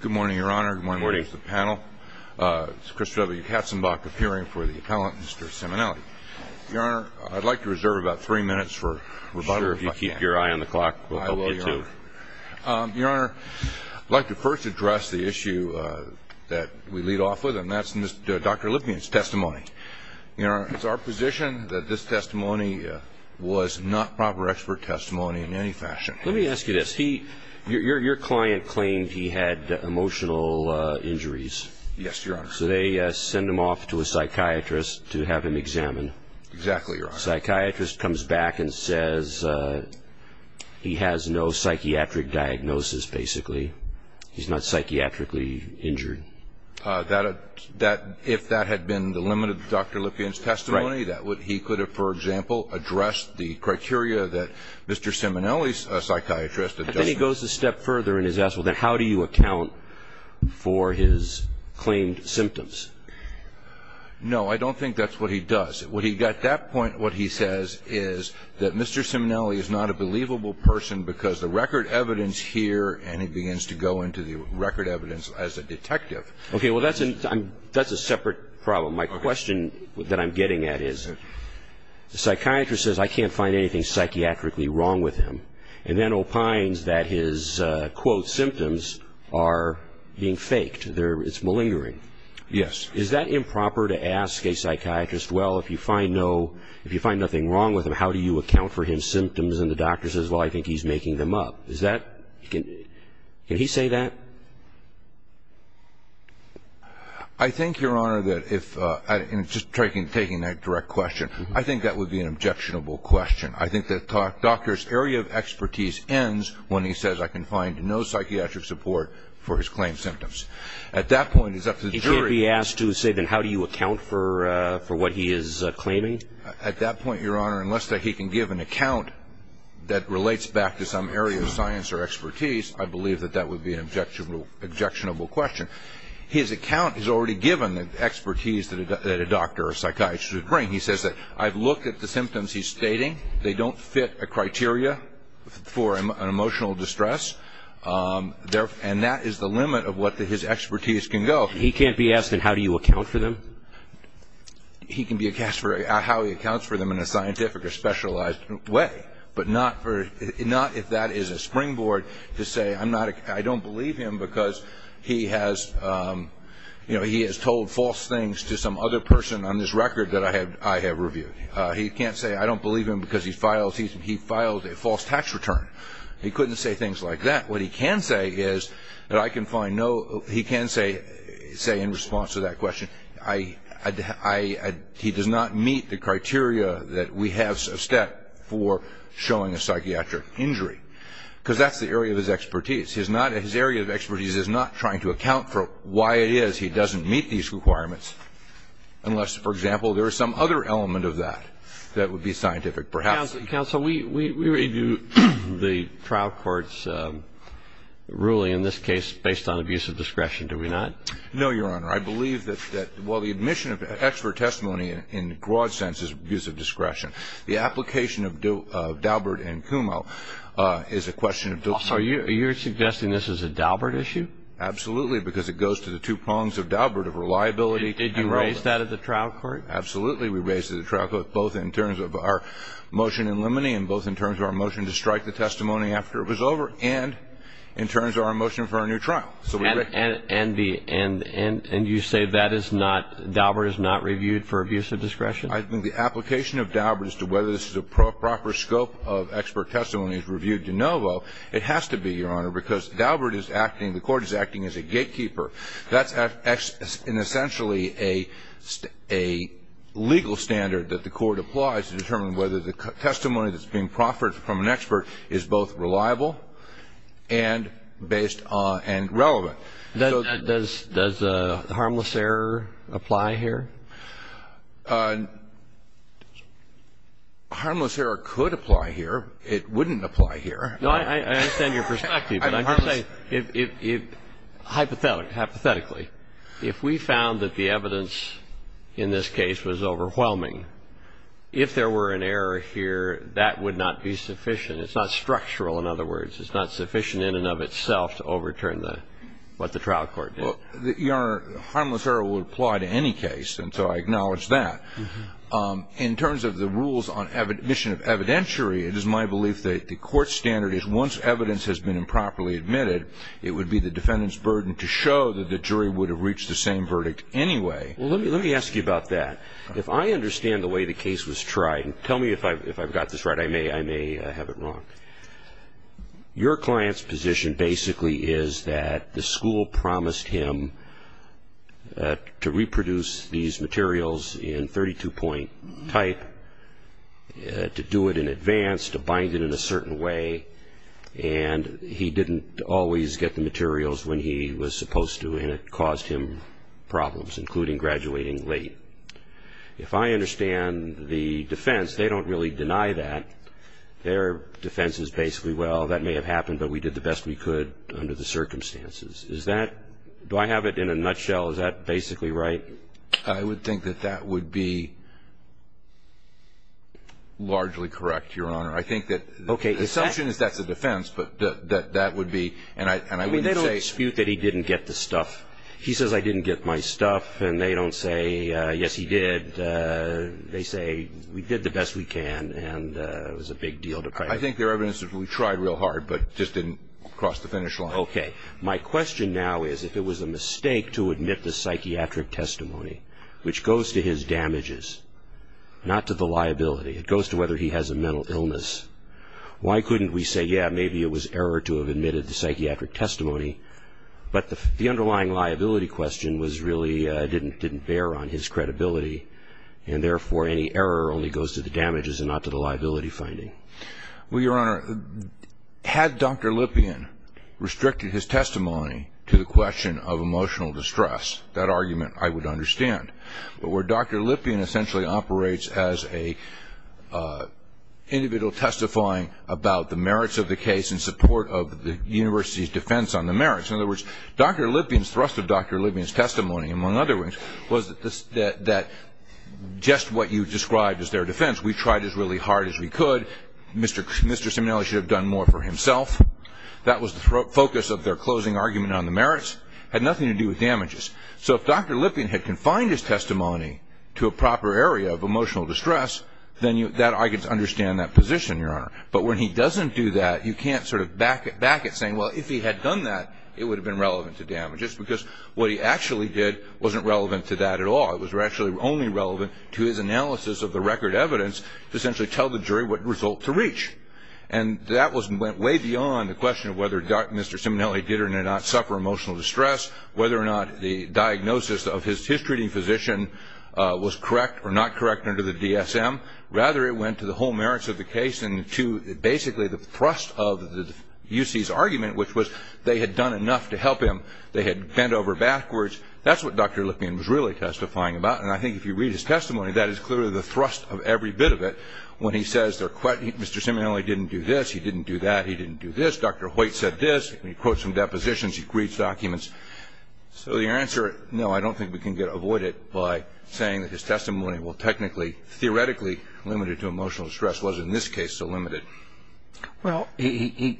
Good morning, Your Honor. Good morning to the panel. It's Chris W. Katzenbach appearing for the appellant, Mr. Simonelli. Your Honor, I'd like to reserve about three minutes for rebuttal, if I can. Sure. If you keep your eye on the clock, we'll help you, too. I will, Your Honor. Your Honor, I'd like to first address the issue that we lead off with, and that's Dr. Lippman's testimony. Your Honor, it's our position that this testimony was not proper expert testimony in any fashion. Let me ask you this. Your client claimed he had emotional injuries. Yes, Your Honor. So they send him off to a psychiatrist to have him examined. Exactly, Your Honor. Psychiatrist comes back and says he has no psychiatric diagnosis, basically. He's not psychiatrically injured. If that had been the limit of Dr. Lippman's testimony, he could have, for example, addressed the criteria that Mr. Simonelli's psychiatrist addressed. And then he goes a step further and he's asked, well, then how do you account for his claimed symptoms? No, I don't think that's what he does. At that point, what he says is that Mr. Simonelli is not a believable person because the record evidence here, and he begins to go into the record evidence as a detective. Okay, well, that's a separate problem. My question that I'm getting at is the psychiatrist says I can't find anything psychiatrically wrong with him and then opines that his, quote, symptoms are being faked. It's malingering. Yes. Is that improper to ask a psychiatrist, well, if you find nothing wrong with him, how do you account for his symptoms? And the doctor says, well, I think he's making them up. Can he say that? I think, Your Honor, that if, just taking that direct question, I think that would be an objectionable question. I think the doctor's area of expertise ends when he says I can find no psychiatric support for his claimed symptoms. At that point, it's up to the jury. He can't be asked to say, then, how do you account for what he is claiming? At that point, Your Honor, unless he can give an account that relates back to some area of science or expertise, I believe that that would be an objectionable question. His account is already given, the expertise that a doctor or psychiatrist would bring. He says that I've looked at the symptoms he's stating. They don't fit a criteria for an emotional distress, and that is the limit of what his expertise can go. He can't be asked, then, how do you account for them? He can be asked how he accounts for them in a scientific or specialized way, but not if that is a springboard to say I don't believe him because he has told false things to some other person on this record that I have reviewed. He can't say I don't believe him because he filed a false tax return. He couldn't say things like that. What he can say is that I can find no ‑‑ he can say in response to that question, he does not meet the criteria that we have set for showing a psychiatric injury, because that's the area of his expertise. His area of expertise is not trying to account for why it is he doesn't meet these requirements, unless, for example, there is some other element of that that would be scientific, perhaps. Counsel, we review the trial court's ruling in this case based on abuse of discretion, do we not? No, Your Honor. I believe that while the admission of expert testimony in broad sense is abuse of discretion, the application of Daubert and Kumo is a question of ‑‑ So you are suggesting this is a Daubert issue? Absolutely, because it goes to the two prongs of Daubert of reliability and ‑‑ Did you raise that at the trial court? Absolutely. We raised it at the trial court both in terms of our motion in limine and both in terms of our motion to strike the testimony after it was over and in terms of our motion for a new trial. And you say that is not ‑‑ Daubert is not reviewed for abuse of discretion? I think the application of Daubert as to whether this is a proper scope of expert testimony is reviewed de novo. It has to be, Your Honor, because Daubert is acting, the court is acting as a gatekeeper. That's essentially a legal standard that the court applies to determine whether the testimony that's being proffered from an expert is both reliable and based on ‑‑ and relevant. Does harmless error apply here? Harmless error could apply here. It wouldn't apply here. I understand your perspective. Hypothetically, if we found that the evidence in this case was overwhelming, if there were an error here, that would not be sufficient. It's not structural, in other words. It's not sufficient in and of itself to overturn what the trial court did. Your Honor, harmless error would apply to any case, and so I acknowledge that. In terms of the rules on admission of evidentiary, it is my belief that the court standard is once evidence has been improperly admitted, it would be the defendant's burden to show that the jury would have reached the same verdict anyway. Well, let me ask you about that. If I understand the way the case was tried, and tell me if I've got this right. I may have it wrong. Your client's position basically is that the school promised him to reproduce these materials in 32-point type, to do it in advance, to bind it in a certain way, and he didn't always get the materials when he was supposed to, and it caused him problems, including graduating late. If I understand the defense, they don't really deny that. Their defense is basically, well, that may have happened, but we did the best we could under the circumstances. Do I have it in a nutshell? Is that basically right? I would think that that would be largely correct, Your Honor. I think that the assumption is that's a defense, but that would be, and I wouldn't say. I mean, they don't dispute that he didn't get the stuff. He says, I didn't get my stuff, and they don't say, yes, he did. They say, we did the best we can, and it was a big deal to pry. I think their evidence is we tried real hard, but just didn't cross the finish line. Okay. My question now is if it was a mistake to admit the psychiatric testimony, which goes to his damages, not to the liability. It goes to whether he has a mental illness. Why couldn't we say, yeah, maybe it was error to have admitted the psychiatric testimony, but the underlying liability question really didn't bear on his credibility, and therefore any error only goes to the damages and not to the liability finding? Well, Your Honor, had Dr. Lipien restricted his testimony to the question of emotional distress, that argument I would understand. But where Dr. Lipien essentially operates as an individual testifying about the merits of the case in support of the university's defense on the merits. In other words, Dr. Lipien's thrust of Dr. Lipien's testimony, among other things, was that just what you described as their defense, we tried as really hard as we could, Mr. Simonelli should have done more for himself. That was the focus of their closing argument on the merits. It had nothing to do with damages. So if Dr. Lipien had confined his testimony to a proper area of emotional distress, then I could understand that position, Your Honor. But when he doesn't do that, you can't sort of back it saying, well, if he had done that, it would have been relevant to damages, because what he actually did wasn't relevant to that at all. It was actually only relevant to his analysis of the record evidence to essentially tell the jury what result to reach. And that went way beyond the question of whether Mr. Simonelli did or did not suffer emotional distress, whether or not the diagnosis of his treating physician was correct or not correct under the DSM. Rather, it went to the whole merits of the case and to basically the thrust of the UC's argument, which was they had done enough to help him. They had bent over backwards. That's what Dr. Lipien was really testifying about. And I think if you read his testimony, that is clearly the thrust of every bit of it. When he says Mr. Simonelli didn't do this, he didn't do that, he didn't do this. Dr. Hoyt said this. He quotes some depositions. He reads documents. So the answer, no, I don't think we can avoid it by saying that his testimony was technically, theoretically limited to emotional distress. It wasn't in this case so limited. Well, I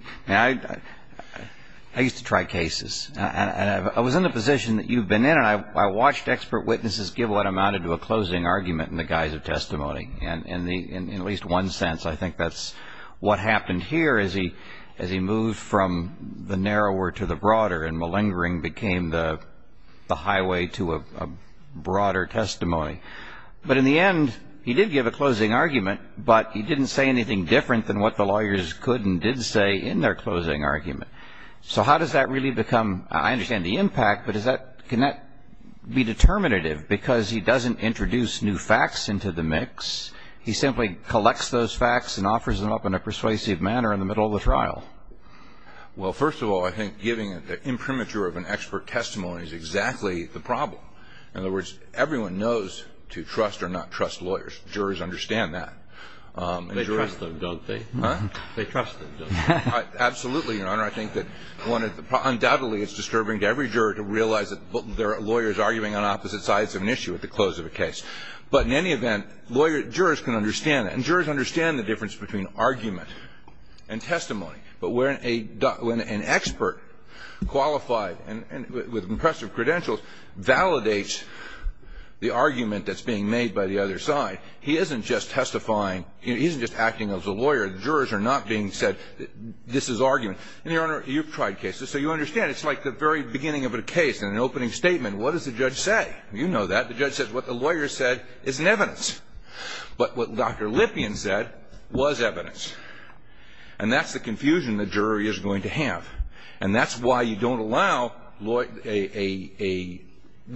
used to try cases. I was in the position that you've been in, and I watched expert witnesses give what amounted to a closing argument in the guise of testimony. In at least one sense, I think that's what happened here as he moved from the narrower to the broader and malingering became the highway to a broader testimony. But in the end, he did give a closing argument, but he didn't say anything different than what the lawyers could and did say in their closing argument. So how does that really become, I understand the impact, but can that be determinative because he doesn't introduce new facts into the mix. He simply collects those facts and offers them up in a persuasive manner in the middle of the trial. Well, first of all, I think giving the imprimatur of an expert testimony is exactly the problem. In other words, everyone knows to trust or not trust lawyers. Jurors understand that. They trust them, don't they? Huh? They trust them, don't they? Absolutely, Your Honor. I think that undoubtedly it's disturbing to every juror to realize that there are lawyers arguing on opposite sides of an issue at the close of a case. But in any event, jurors can understand that. And jurors understand the difference between argument and testimony. But when an expert qualified and with impressive credentials validates the argument that's being made by the other side, he isn't just testifying. He isn't just acting as a lawyer. The jurors are not being said, this is argument. And, Your Honor, you've tried cases. So you understand it's like the very beginning of a case and an opening statement. What does the judge say? You know that. The judge says what the lawyer said is in evidence. But what Dr. Lipien said was evidence. And that's the confusion the jury is going to have. And that's why you don't allow a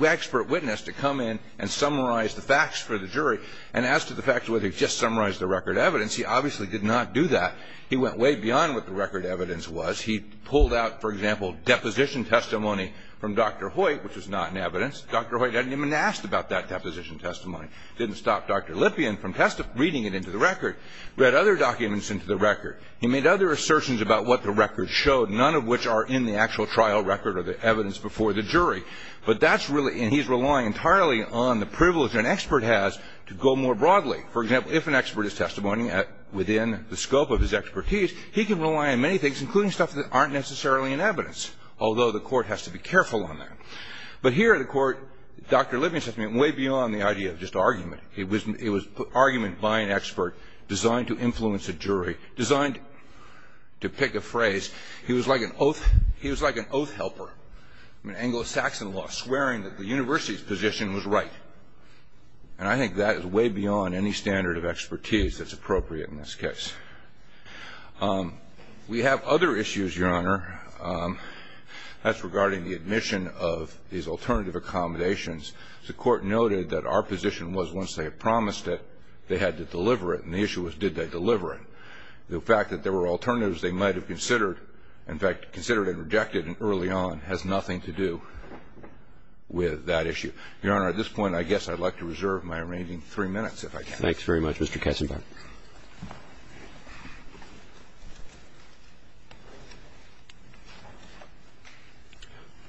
expert witness to come in and summarize the facts for the jury. And as to the fact whether he just summarized the record evidence, he obviously did not do that. He went way beyond what the record evidence was. He pulled out, for example, deposition testimony from Dr. Hoyt, which was not in evidence. Dr. Hoyt hadn't even asked about that deposition testimony. Didn't stop Dr. Lipien from reading it into the record. Read other documents into the record. He made other assertions about what the record showed, none of which are in the actual trial record or the evidence before the jury. But that's really, and he's relying entirely on the privilege an expert has to go more broadly. For example, if an expert is testimony within the scope of his expertise, he can rely on many things, including stuff that aren't necessarily in evidence, although the court has to be careful on that. But here the court, Dr. Lipien said something way beyond the idea of just argument. It was argument by an expert designed to influence a jury, designed to pick a phrase. He was like an oath helper. I mean, Anglo-Saxon law, swearing that the university's position was right. And I think that is way beyond any standard of expertise that's appropriate in this case. We have other issues, Your Honor. That's regarding the admission of these alternative accommodations. The court noted that our position was once they had promised it, they had to deliver it. And the issue was did they deliver it. The fact that there were alternatives they might have considered, in fact, considered and rejected early on has nothing to do with that issue. Your Honor, at this point, I guess I'd like to reserve my remaining three minutes, if I can. Thanks very much, Mr. Kessenbaum.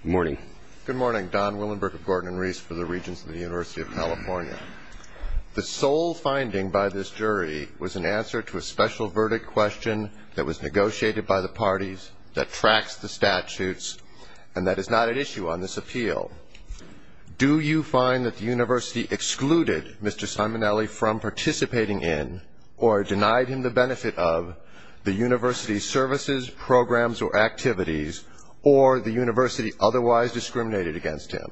Good morning. Good morning. Don Willenberg of Gordon and Reese for the Regents of the University of California. The sole finding by this jury was an answer to a special verdict question that was negotiated by the parties that tracks the statutes and that is not at issue on this appeal. Do you find that the university excluded Mr. Simonelli from participating in or denied him the benefit of the university's services, programs or activities or the university otherwise discriminated against him?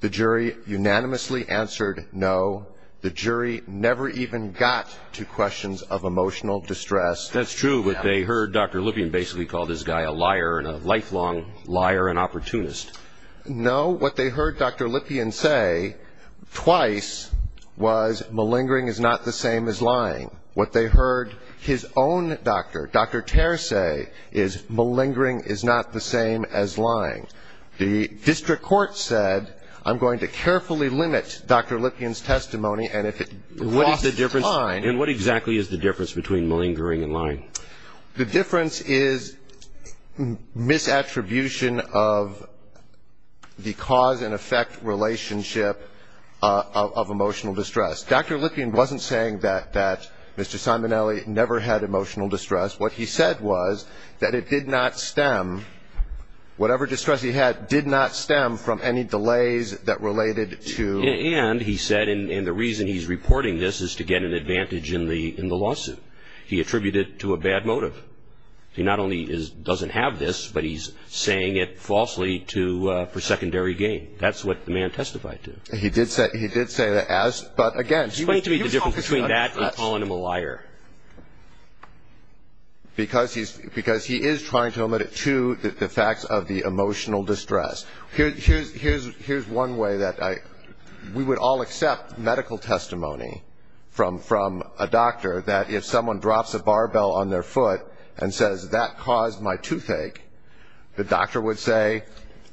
The jury unanimously answered no. The jury never even got to questions of emotional distress. That's true, but they heard Dr. Lippian basically call this guy a liar and a lifelong liar and opportunist. No. What they heard Dr. Lippian say twice was malingering is not the same as lying. What they heard his own doctor, Dr. Terr, say is malingering is not the same as lying. The district court said I'm going to carefully limit Dr. Lippian's testimony and if it costs time And what exactly is the difference between malingering and lying? The difference is misattribution of the cause and effect relationship of emotional distress. Dr. Lippian wasn't saying that Mr. Simonelli never had emotional distress. What he said was that it did not stem, whatever distress he had did not stem from any delays that related to And he said, and the reason he's reporting this is to get an advantage in the lawsuit. He attributed it to a bad motive. He not only doesn't have this, but he's saying it falsely for secondary gain. That's what the man testified to. He did say that as, but again. Explain to me the difference between that and calling him a liar. Because he is trying to limit it to the facts of the emotional distress. Here's one way that we would all accept medical testimony from a doctor that if someone drops a barbell on their foot And says that caused my toothache, the doctor would say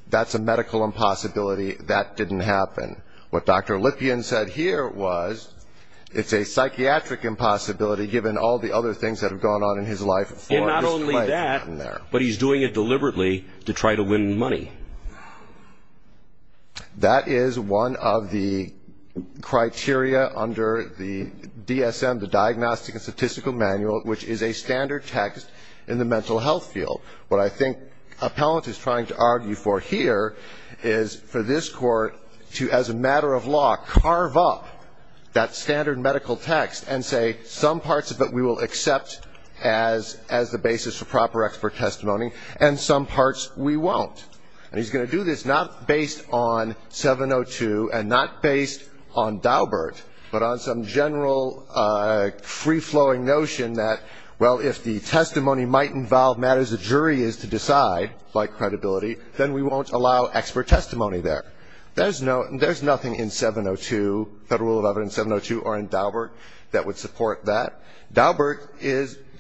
that's a medical impossibility. That didn't happen. What Dr. Lippian said here was it's a psychiatric impossibility given all the other things that have gone on in his life. And not only that, but he's doing it deliberately to try to win money. That is one of the criteria under the DSM, the Diagnostic and Statistical Manual, which is a standard text in the mental health field. What I think Appellant is trying to argue for here is for this Court to, as a matter of law, carve up that standard medical text and say some parts of it we will accept as the basis for proper expert testimony, and some parts we won't. And he's going to do this not based on 702 and not based on Daubert, but on some general free-flowing notion that, well, if the testimony might involve matters the jury is to decide, like credibility, then we won't allow expert testimony there. There's nothing in 702, Federal Rule of Evidence 702 or in Daubert, that would support that. Daubert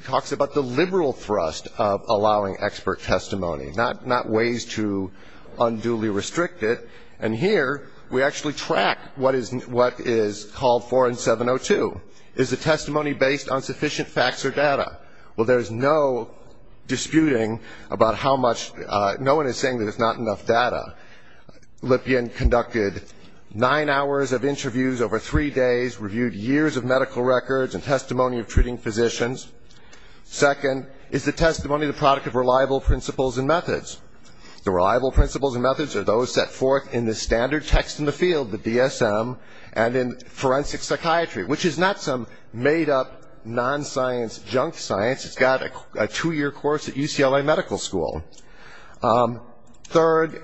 talks about the liberal thrust of allowing expert testimony, not ways to unduly restrict it. And here we actually track what is called for in 702. Is the testimony based on sufficient facts or data? Well, there's no disputing about how much no one is saying there's not enough data. Lippian conducted nine hours of interviews over three days, reviewed years of medical records and testimony of treating physicians. Second, is the testimony the product of reliable principles and methods? The reliable principles and methods are those set forth in the standard text in the field, the DSM, and in forensic psychiatry, which is not some made-up, non-science junk science. It's got a two-year course at UCLA Medical School. Third,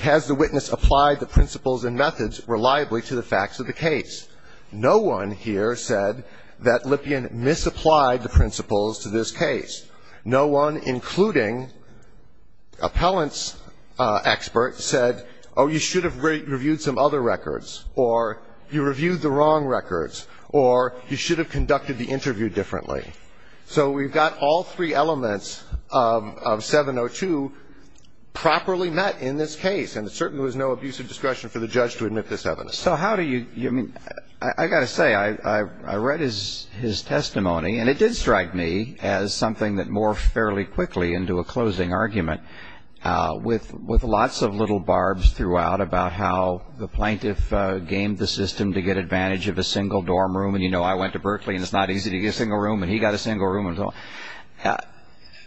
has the witness applied the principles and methods reliably to the facts of the case? No one here said that Lippian misapplied the principles to this case. No one, including appellant's expert, said, oh, you should have reviewed some other records, or you reviewed the wrong records, or you should have conducted the interview differently. So we've got all three elements of 702 properly met in this case, and it certainly was no abuse of discretion for the judge to admit this evidence. So how do you – I mean, I've got to say, I read his testimony, and it did strike me as something that morphed fairly quickly into a closing argument, with lots of little barbs throughout about how the plaintiff gamed the system to get advantage of a single dorm room, and you know I went to Berkeley, and it's not easy to get a single room, and he got a single room.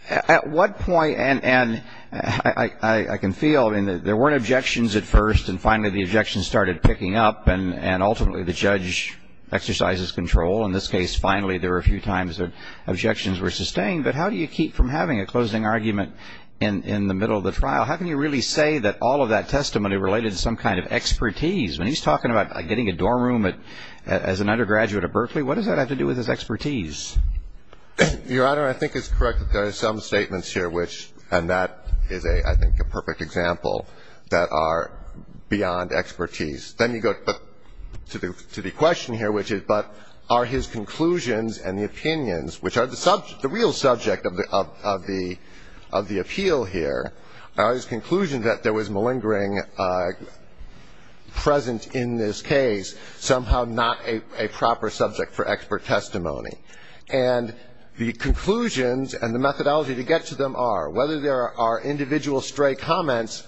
At what point – and I can feel, I mean, there weren't objections at first, and finally the objections started picking up, and ultimately the judge exercises control. In this case, finally, there were a few times that objections were sustained, but how do you keep from having a closing argument in the middle of the trial? How can you really say that all of that testimony related to some kind of expertise? When he's talking about getting a dorm room as an undergraduate at Berkeley, what does that have to do with his expertise? Your Honor, I think it's correct that there are some statements here which – and that is, I think, a perfect example – that are beyond expertise. Then you go to the question here, which is, but are his conclusions and the opinions, which are the real subject of the appeal here, are his conclusions that there was malingering present in this case, somehow not a proper subject for expert testimony? And the conclusions and the methodology to get to them are, whether there are individual stray comments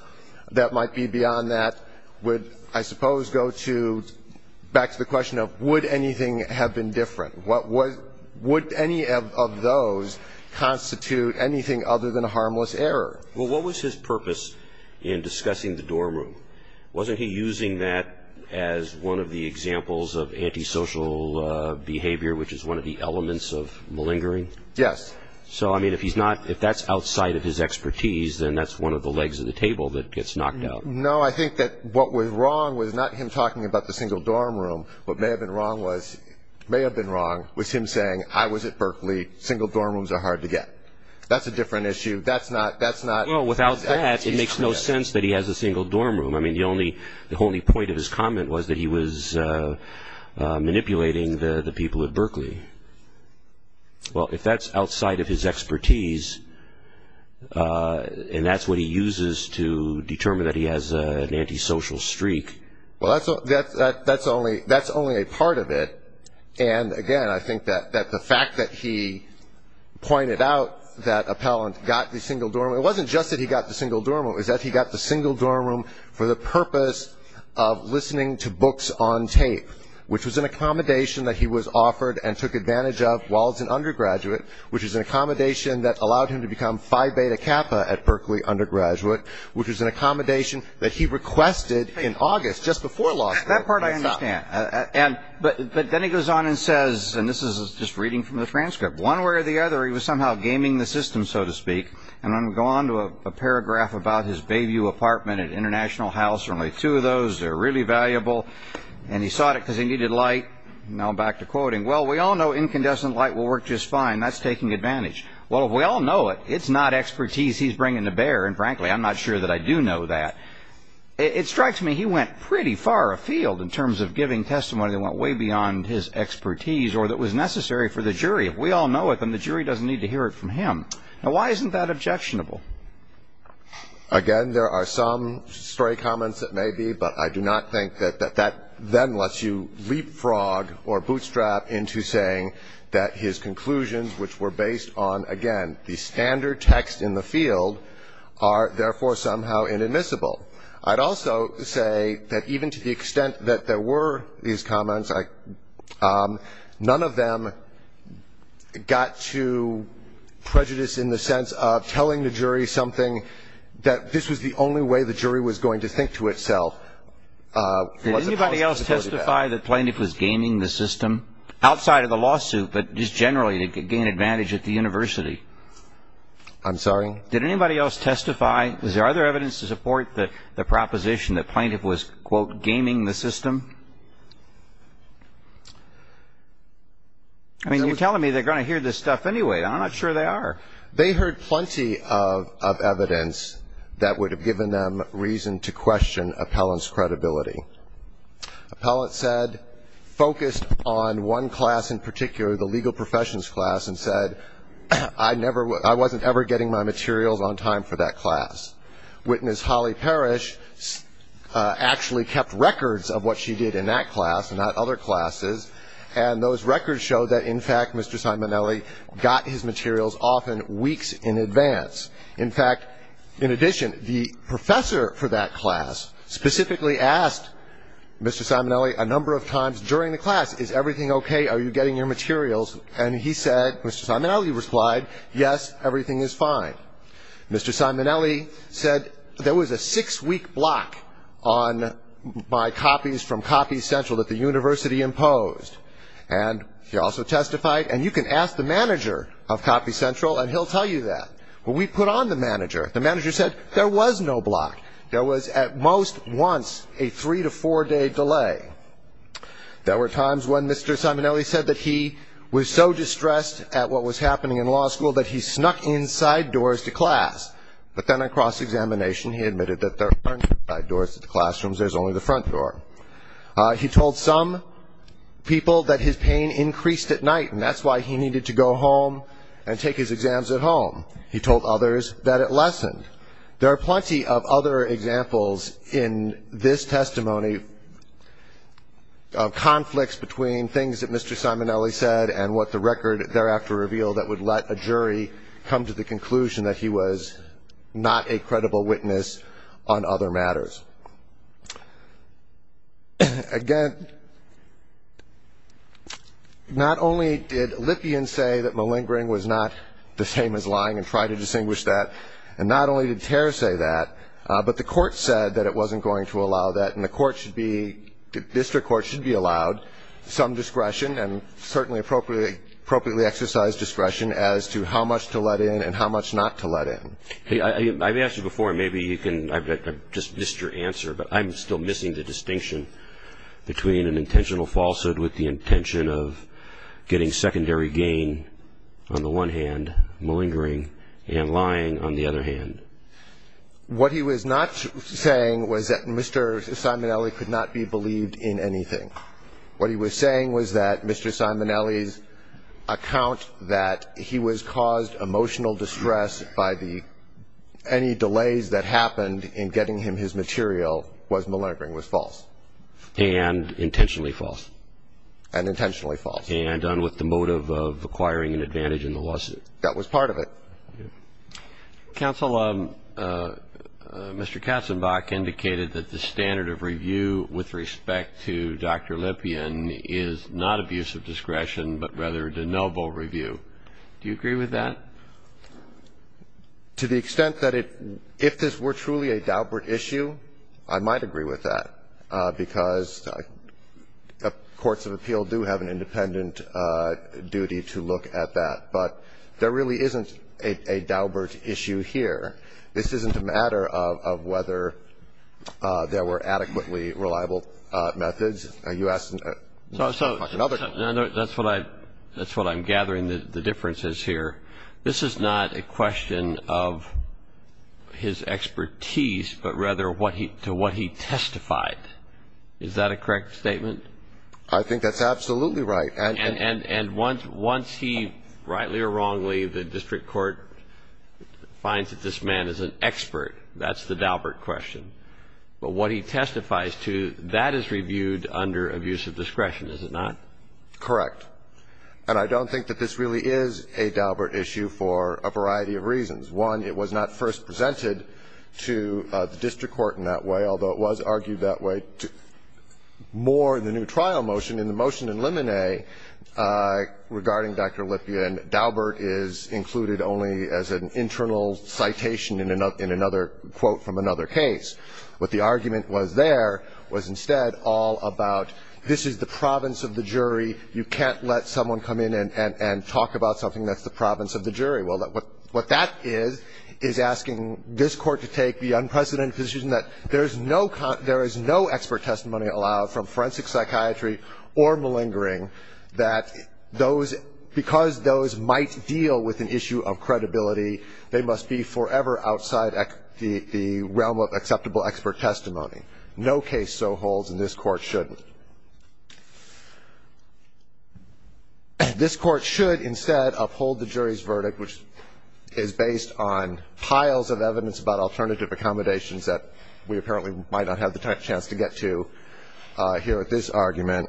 that might be beyond that would, I suppose, go back to the question of would anything have been different? Would any of those constitute anything other than a harmless error? Well, what was his purpose in discussing the dorm room? Wasn't he using that as one of the examples of antisocial behavior, which is one of the elements of malingering? Yes. So, I mean, if he's not – if that's outside of his expertise, then that's one of the legs of the table that gets knocked out. No, I think that what was wrong was not him talking about the single dorm room. What may have been wrong was him saying, I was at Berkeley, single dorm rooms are hard to get. That's a different issue. Well, without that, it makes no sense that he has a single dorm room. I mean, the only point of his comment was that he was manipulating the people at Berkeley. Well, if that's outside of his expertise, and that's what he uses to determine that he has an antisocial streak. Well, that's only a part of it. And, again, I think that the fact that he pointed out that Appellant got the single dorm room, it wasn't just that he got the single dorm room. It was that he got the single dorm room for the purpose of listening to books on tape, which was an accommodation that he was offered and took advantage of while as an undergraduate, which is an accommodation that allowed him to become Phi Beta Kappa at Berkeley undergraduate, which was an accommodation that he requested in August just before law school. That part I understand. But then he goes on and says, and this is just reading from the transcript, one way or the other, he was somehow gaming the system, so to speak. And I'm going to go on to a paragraph about his Bayview apartment at International House. There are only two of those. They're really valuable. And he sought it because he needed light. Now back to quoting. Well, we all know incandescent light will work just fine. That's taking advantage. Well, if we all know it, it's not expertise he's bringing to bear. And, frankly, I'm not sure that I do know that. It strikes me he went pretty far afield in terms of giving testimony that went way beyond his expertise or that was necessary for the jury. If we all know it, then the jury doesn't need to hear it from him. Now, why isn't that objectionable? Again, there are some stray comments that may be, but I do not think that that then lets you leapfrog or bootstrap into saying that his conclusions, which were based on, again, the standard text in the field, are therefore somehow inadmissible. I'd also say that even to the extent that there were these comments, none of them got to prejudice in the sense of telling the jury something, that this was the only way the jury was going to think to itself. Did anybody else testify that Plaintiff was gaming the system? Outside of the lawsuit, but just generally to gain advantage at the university. I'm sorry? Did anybody else testify? Is there other evidence to support the proposition that Plaintiff was, quote, gaming the system? I mean, you're telling me they're going to hear this stuff anyway. I'm not sure they are. They heard plenty of evidence that would have given them reason to question Appellant's credibility. Appellant said, focused on one class in particular, the legal professions class, and said, I wasn't ever getting my materials on time for that class. Witness Holly Parrish actually kept records of what she did in that class and not other classes, and those records showed that, in fact, Mr. Simonelli got his materials often weeks in advance. In fact, in addition, the professor for that class specifically asked Mr. Simonelli a number of times during the class, is everything okay? Are you getting your materials? And he said, Mr. Simonelli replied, yes, everything is fine. Mr. Simonelli said there was a six-week block on my copies from Copy Central that the university imposed, and he also testified, and you can ask the manager of Copy Central and he'll tell you that. When we put on the manager, the manager said there was no block. There was at most once a three- to four-day delay. There were times when Mr. Simonelli said that he was so distressed at what was happening in law school that he snuck inside doors to class, but then on cross-examination, he admitted that there aren't side doors to the classrooms, there's only the front door. He told some people that his pain increased at night, and that's why he needed to go home and take his exams at home. He told others that it lessened. There are plenty of other examples in this testimony of conflicts between things that Mr. Simonelli said and what the record thereafter revealed that would let a jury come to the conclusion that he was not a credible witness on other matters. Again, not only did Lippian say that malingering was not the same as lying and try to distinguish that, and not only did Tehr say that, but the court said that it wasn't going to allow that, and the court should be, the district court should be allowed some discretion and certainly appropriately exercise discretion as to how much to let in and how much not to let in. Hey, I've asked you before, maybe you can, I've just missed your answer, but I'm still missing the distinction between an intentional falsehood with the intention of getting secondary gain on the one hand, malingering and lying on the other hand. What he was not saying was that Mr. Simonelli could not be believed in anything. What he was saying was that Mr. Simonelli's account that he was caused emotional distress by the any delays that happened in getting him his material was malingering, was false. And intentionally false. And intentionally false. And done with the motive of acquiring an advantage in the lawsuit. That was part of it. Counsel, Mr. Katzenbach indicated that the standard of review with respect to Dr. Lippian is not abuse of discretion, but rather de novo review. Do you agree with that? To the extent that it, if this were truly a Daubert issue, I might agree with that. Because courts of appeal do have an independent duty to look at that. But there really isn't a Daubert issue here. This isn't a matter of whether there were adequately reliable methods. You asked another question. That's what I'm gathering, the differences here. This is not a question of his expertise, but rather to what he testified. Is that a correct statement? I think that's absolutely right. And once he, rightly or wrongly, the district court finds that this man is an expert, that's the Daubert question. But what he testifies to, that is reviewed under abuse of discretion, is it not? Correct. And I don't think that this really is a Daubert issue for a variety of reasons. One, it was not first presented to the district court in that way, although it was argued that way more in the new trial motion. In the motion in Lemonet regarding Dr. Lippian, Daubert is included only as an internal citation in another quote from another case. What the argument was there was instead all about this is the province of the jury. You can't let someone come in and talk about something that's the province of the jury. Well, what that is, is asking this Court to take the unprecedented position that there is no expert testimony allowed from forensic psychiatry or malingering that those, because those might deal with an issue of credibility, they must be forever outside the realm of acceptable expert testimony. No case so holds, and this Court shouldn't. This Court should instead uphold the jury's verdict, which is based on piles of evidence about alternative accommodations that we apparently might not have the chance to get to here at this argument,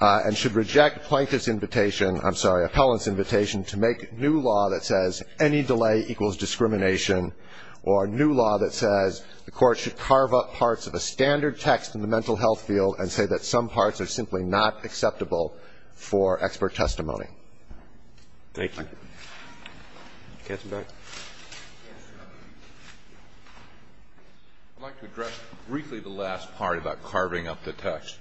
and should reject Plankton's invitation, I'm sorry, Appellant's invitation to make new law that says any delay equals discrimination or new law that says the Court should carve up parts of a standard text in the mental health field and say that some parts are simply not acceptable for expert testimony. Thank you. Counsel back. I'd like to address briefly the last part about carving up the text.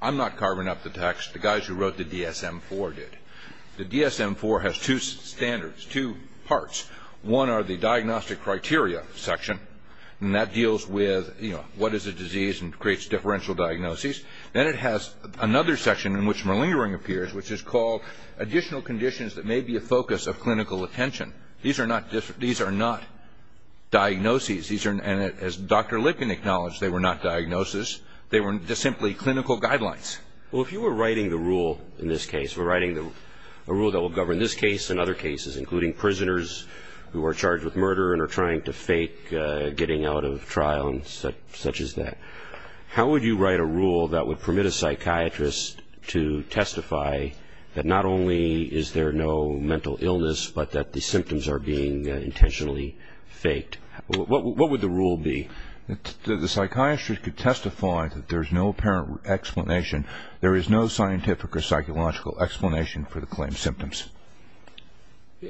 I'm not carving up the text. The guys who wrote the DSM-IV did. The DSM-IV has two standards, two parts. One are the diagnostic criteria section, and that deals with, you know, what is a disease and creates differential diagnoses. Then it has another section in which malingering appears, which is called additional conditions that may be a focus of clinical attention. These are not diagnoses. And as Dr. Lipkin acknowledged, they were not diagnoses. They were just simply clinical guidelines. Well, if you were writing the rule in this case, if you were writing a rule that will who are charged with murder and are trying to fake getting out of trial and such as that, how would you write a rule that would permit a psychiatrist to testify that not only is there no mental illness but that the symptoms are being intentionally faked? What would the rule be? The psychiatrist could testify that there is no apparent explanation, there is no scientific or psychological explanation for the claimed symptoms.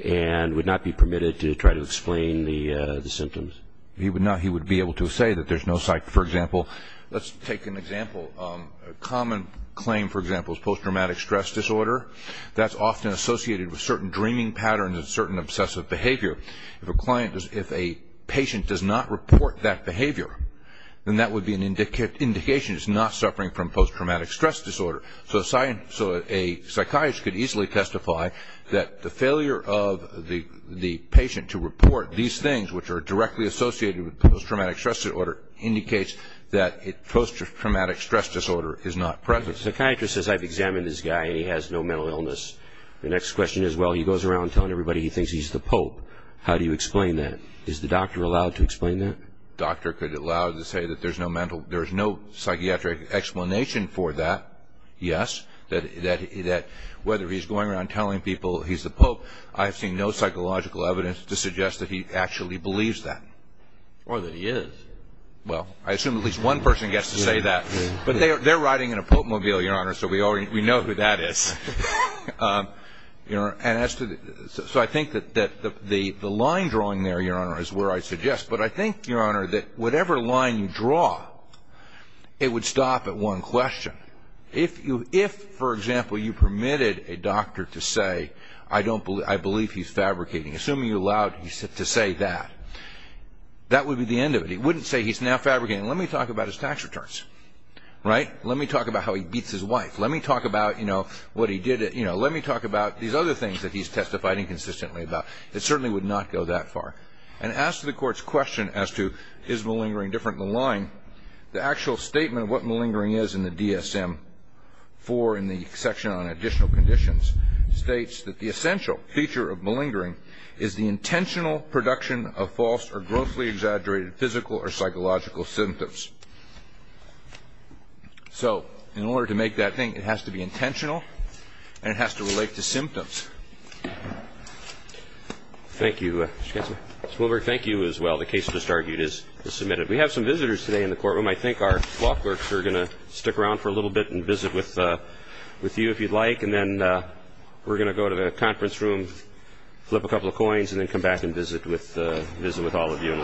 And would not be permitted to try to explain the symptoms. He would be able to say that there's no, for example, let's take an example. A common claim, for example, is post-traumatic stress disorder. That's often associated with certain dreaming patterns and certain obsessive behavior. If a patient does not report that behavior, then that would be an indication it's not suffering from post-traumatic stress disorder. So a psychiatrist could easily testify that the failure of the patient to report these things, which are directly associated with post-traumatic stress disorder, indicates that post-traumatic stress disorder is not present. The psychiatrist says, I've examined this guy and he has no mental illness. The next question is, well, he goes around telling everybody he thinks he's the pope. How do you explain that? Is the doctor allowed to explain that? The doctor could allow to say that there's no mental, there's no psychiatric explanation for that, yes. That whether he's going around telling people he's the pope, I've seen no psychological evidence to suggest that he actually believes that. Or that he is. Well, I assume at least one person gets to say that. But they're riding in a popemobile, Your Honor, so we know who that is. So I think that the line drawing there, Your Honor, is where I suggest. But I think, Your Honor, that whatever line you draw, it would stop at one question. If, for example, you permitted a doctor to say, I believe he's fabricating. Assuming you allowed him to say that, that would be the end of it. He wouldn't say he's now fabricating. Let me talk about his tax returns. Right? Let me talk about how he beats his wife. Let me talk about, you know, what he did. You know, let me talk about these other things that he's testified inconsistently about. It certainly would not go that far. And as to the Court's question as to is malingering different than lying, the actual statement of what malingering is in the DSM 4 in the section on additional conditions states that the essential feature of malingering is the intentional production of false or grossly exaggerated physical or psychological symptoms. So in order to make that thing, it has to be intentional and it has to relate to symptoms. Thank you. Mr. Wilberg, thank you as well. The case just argued is submitted. We have some visitors today in the courtroom. I think our clockworks are going to stick around for a little bit and visit with you if you'd like, and then we're going to go to the conference room, flip a couple of coins, and then come back and visit with all of you in a little bit. So thank you.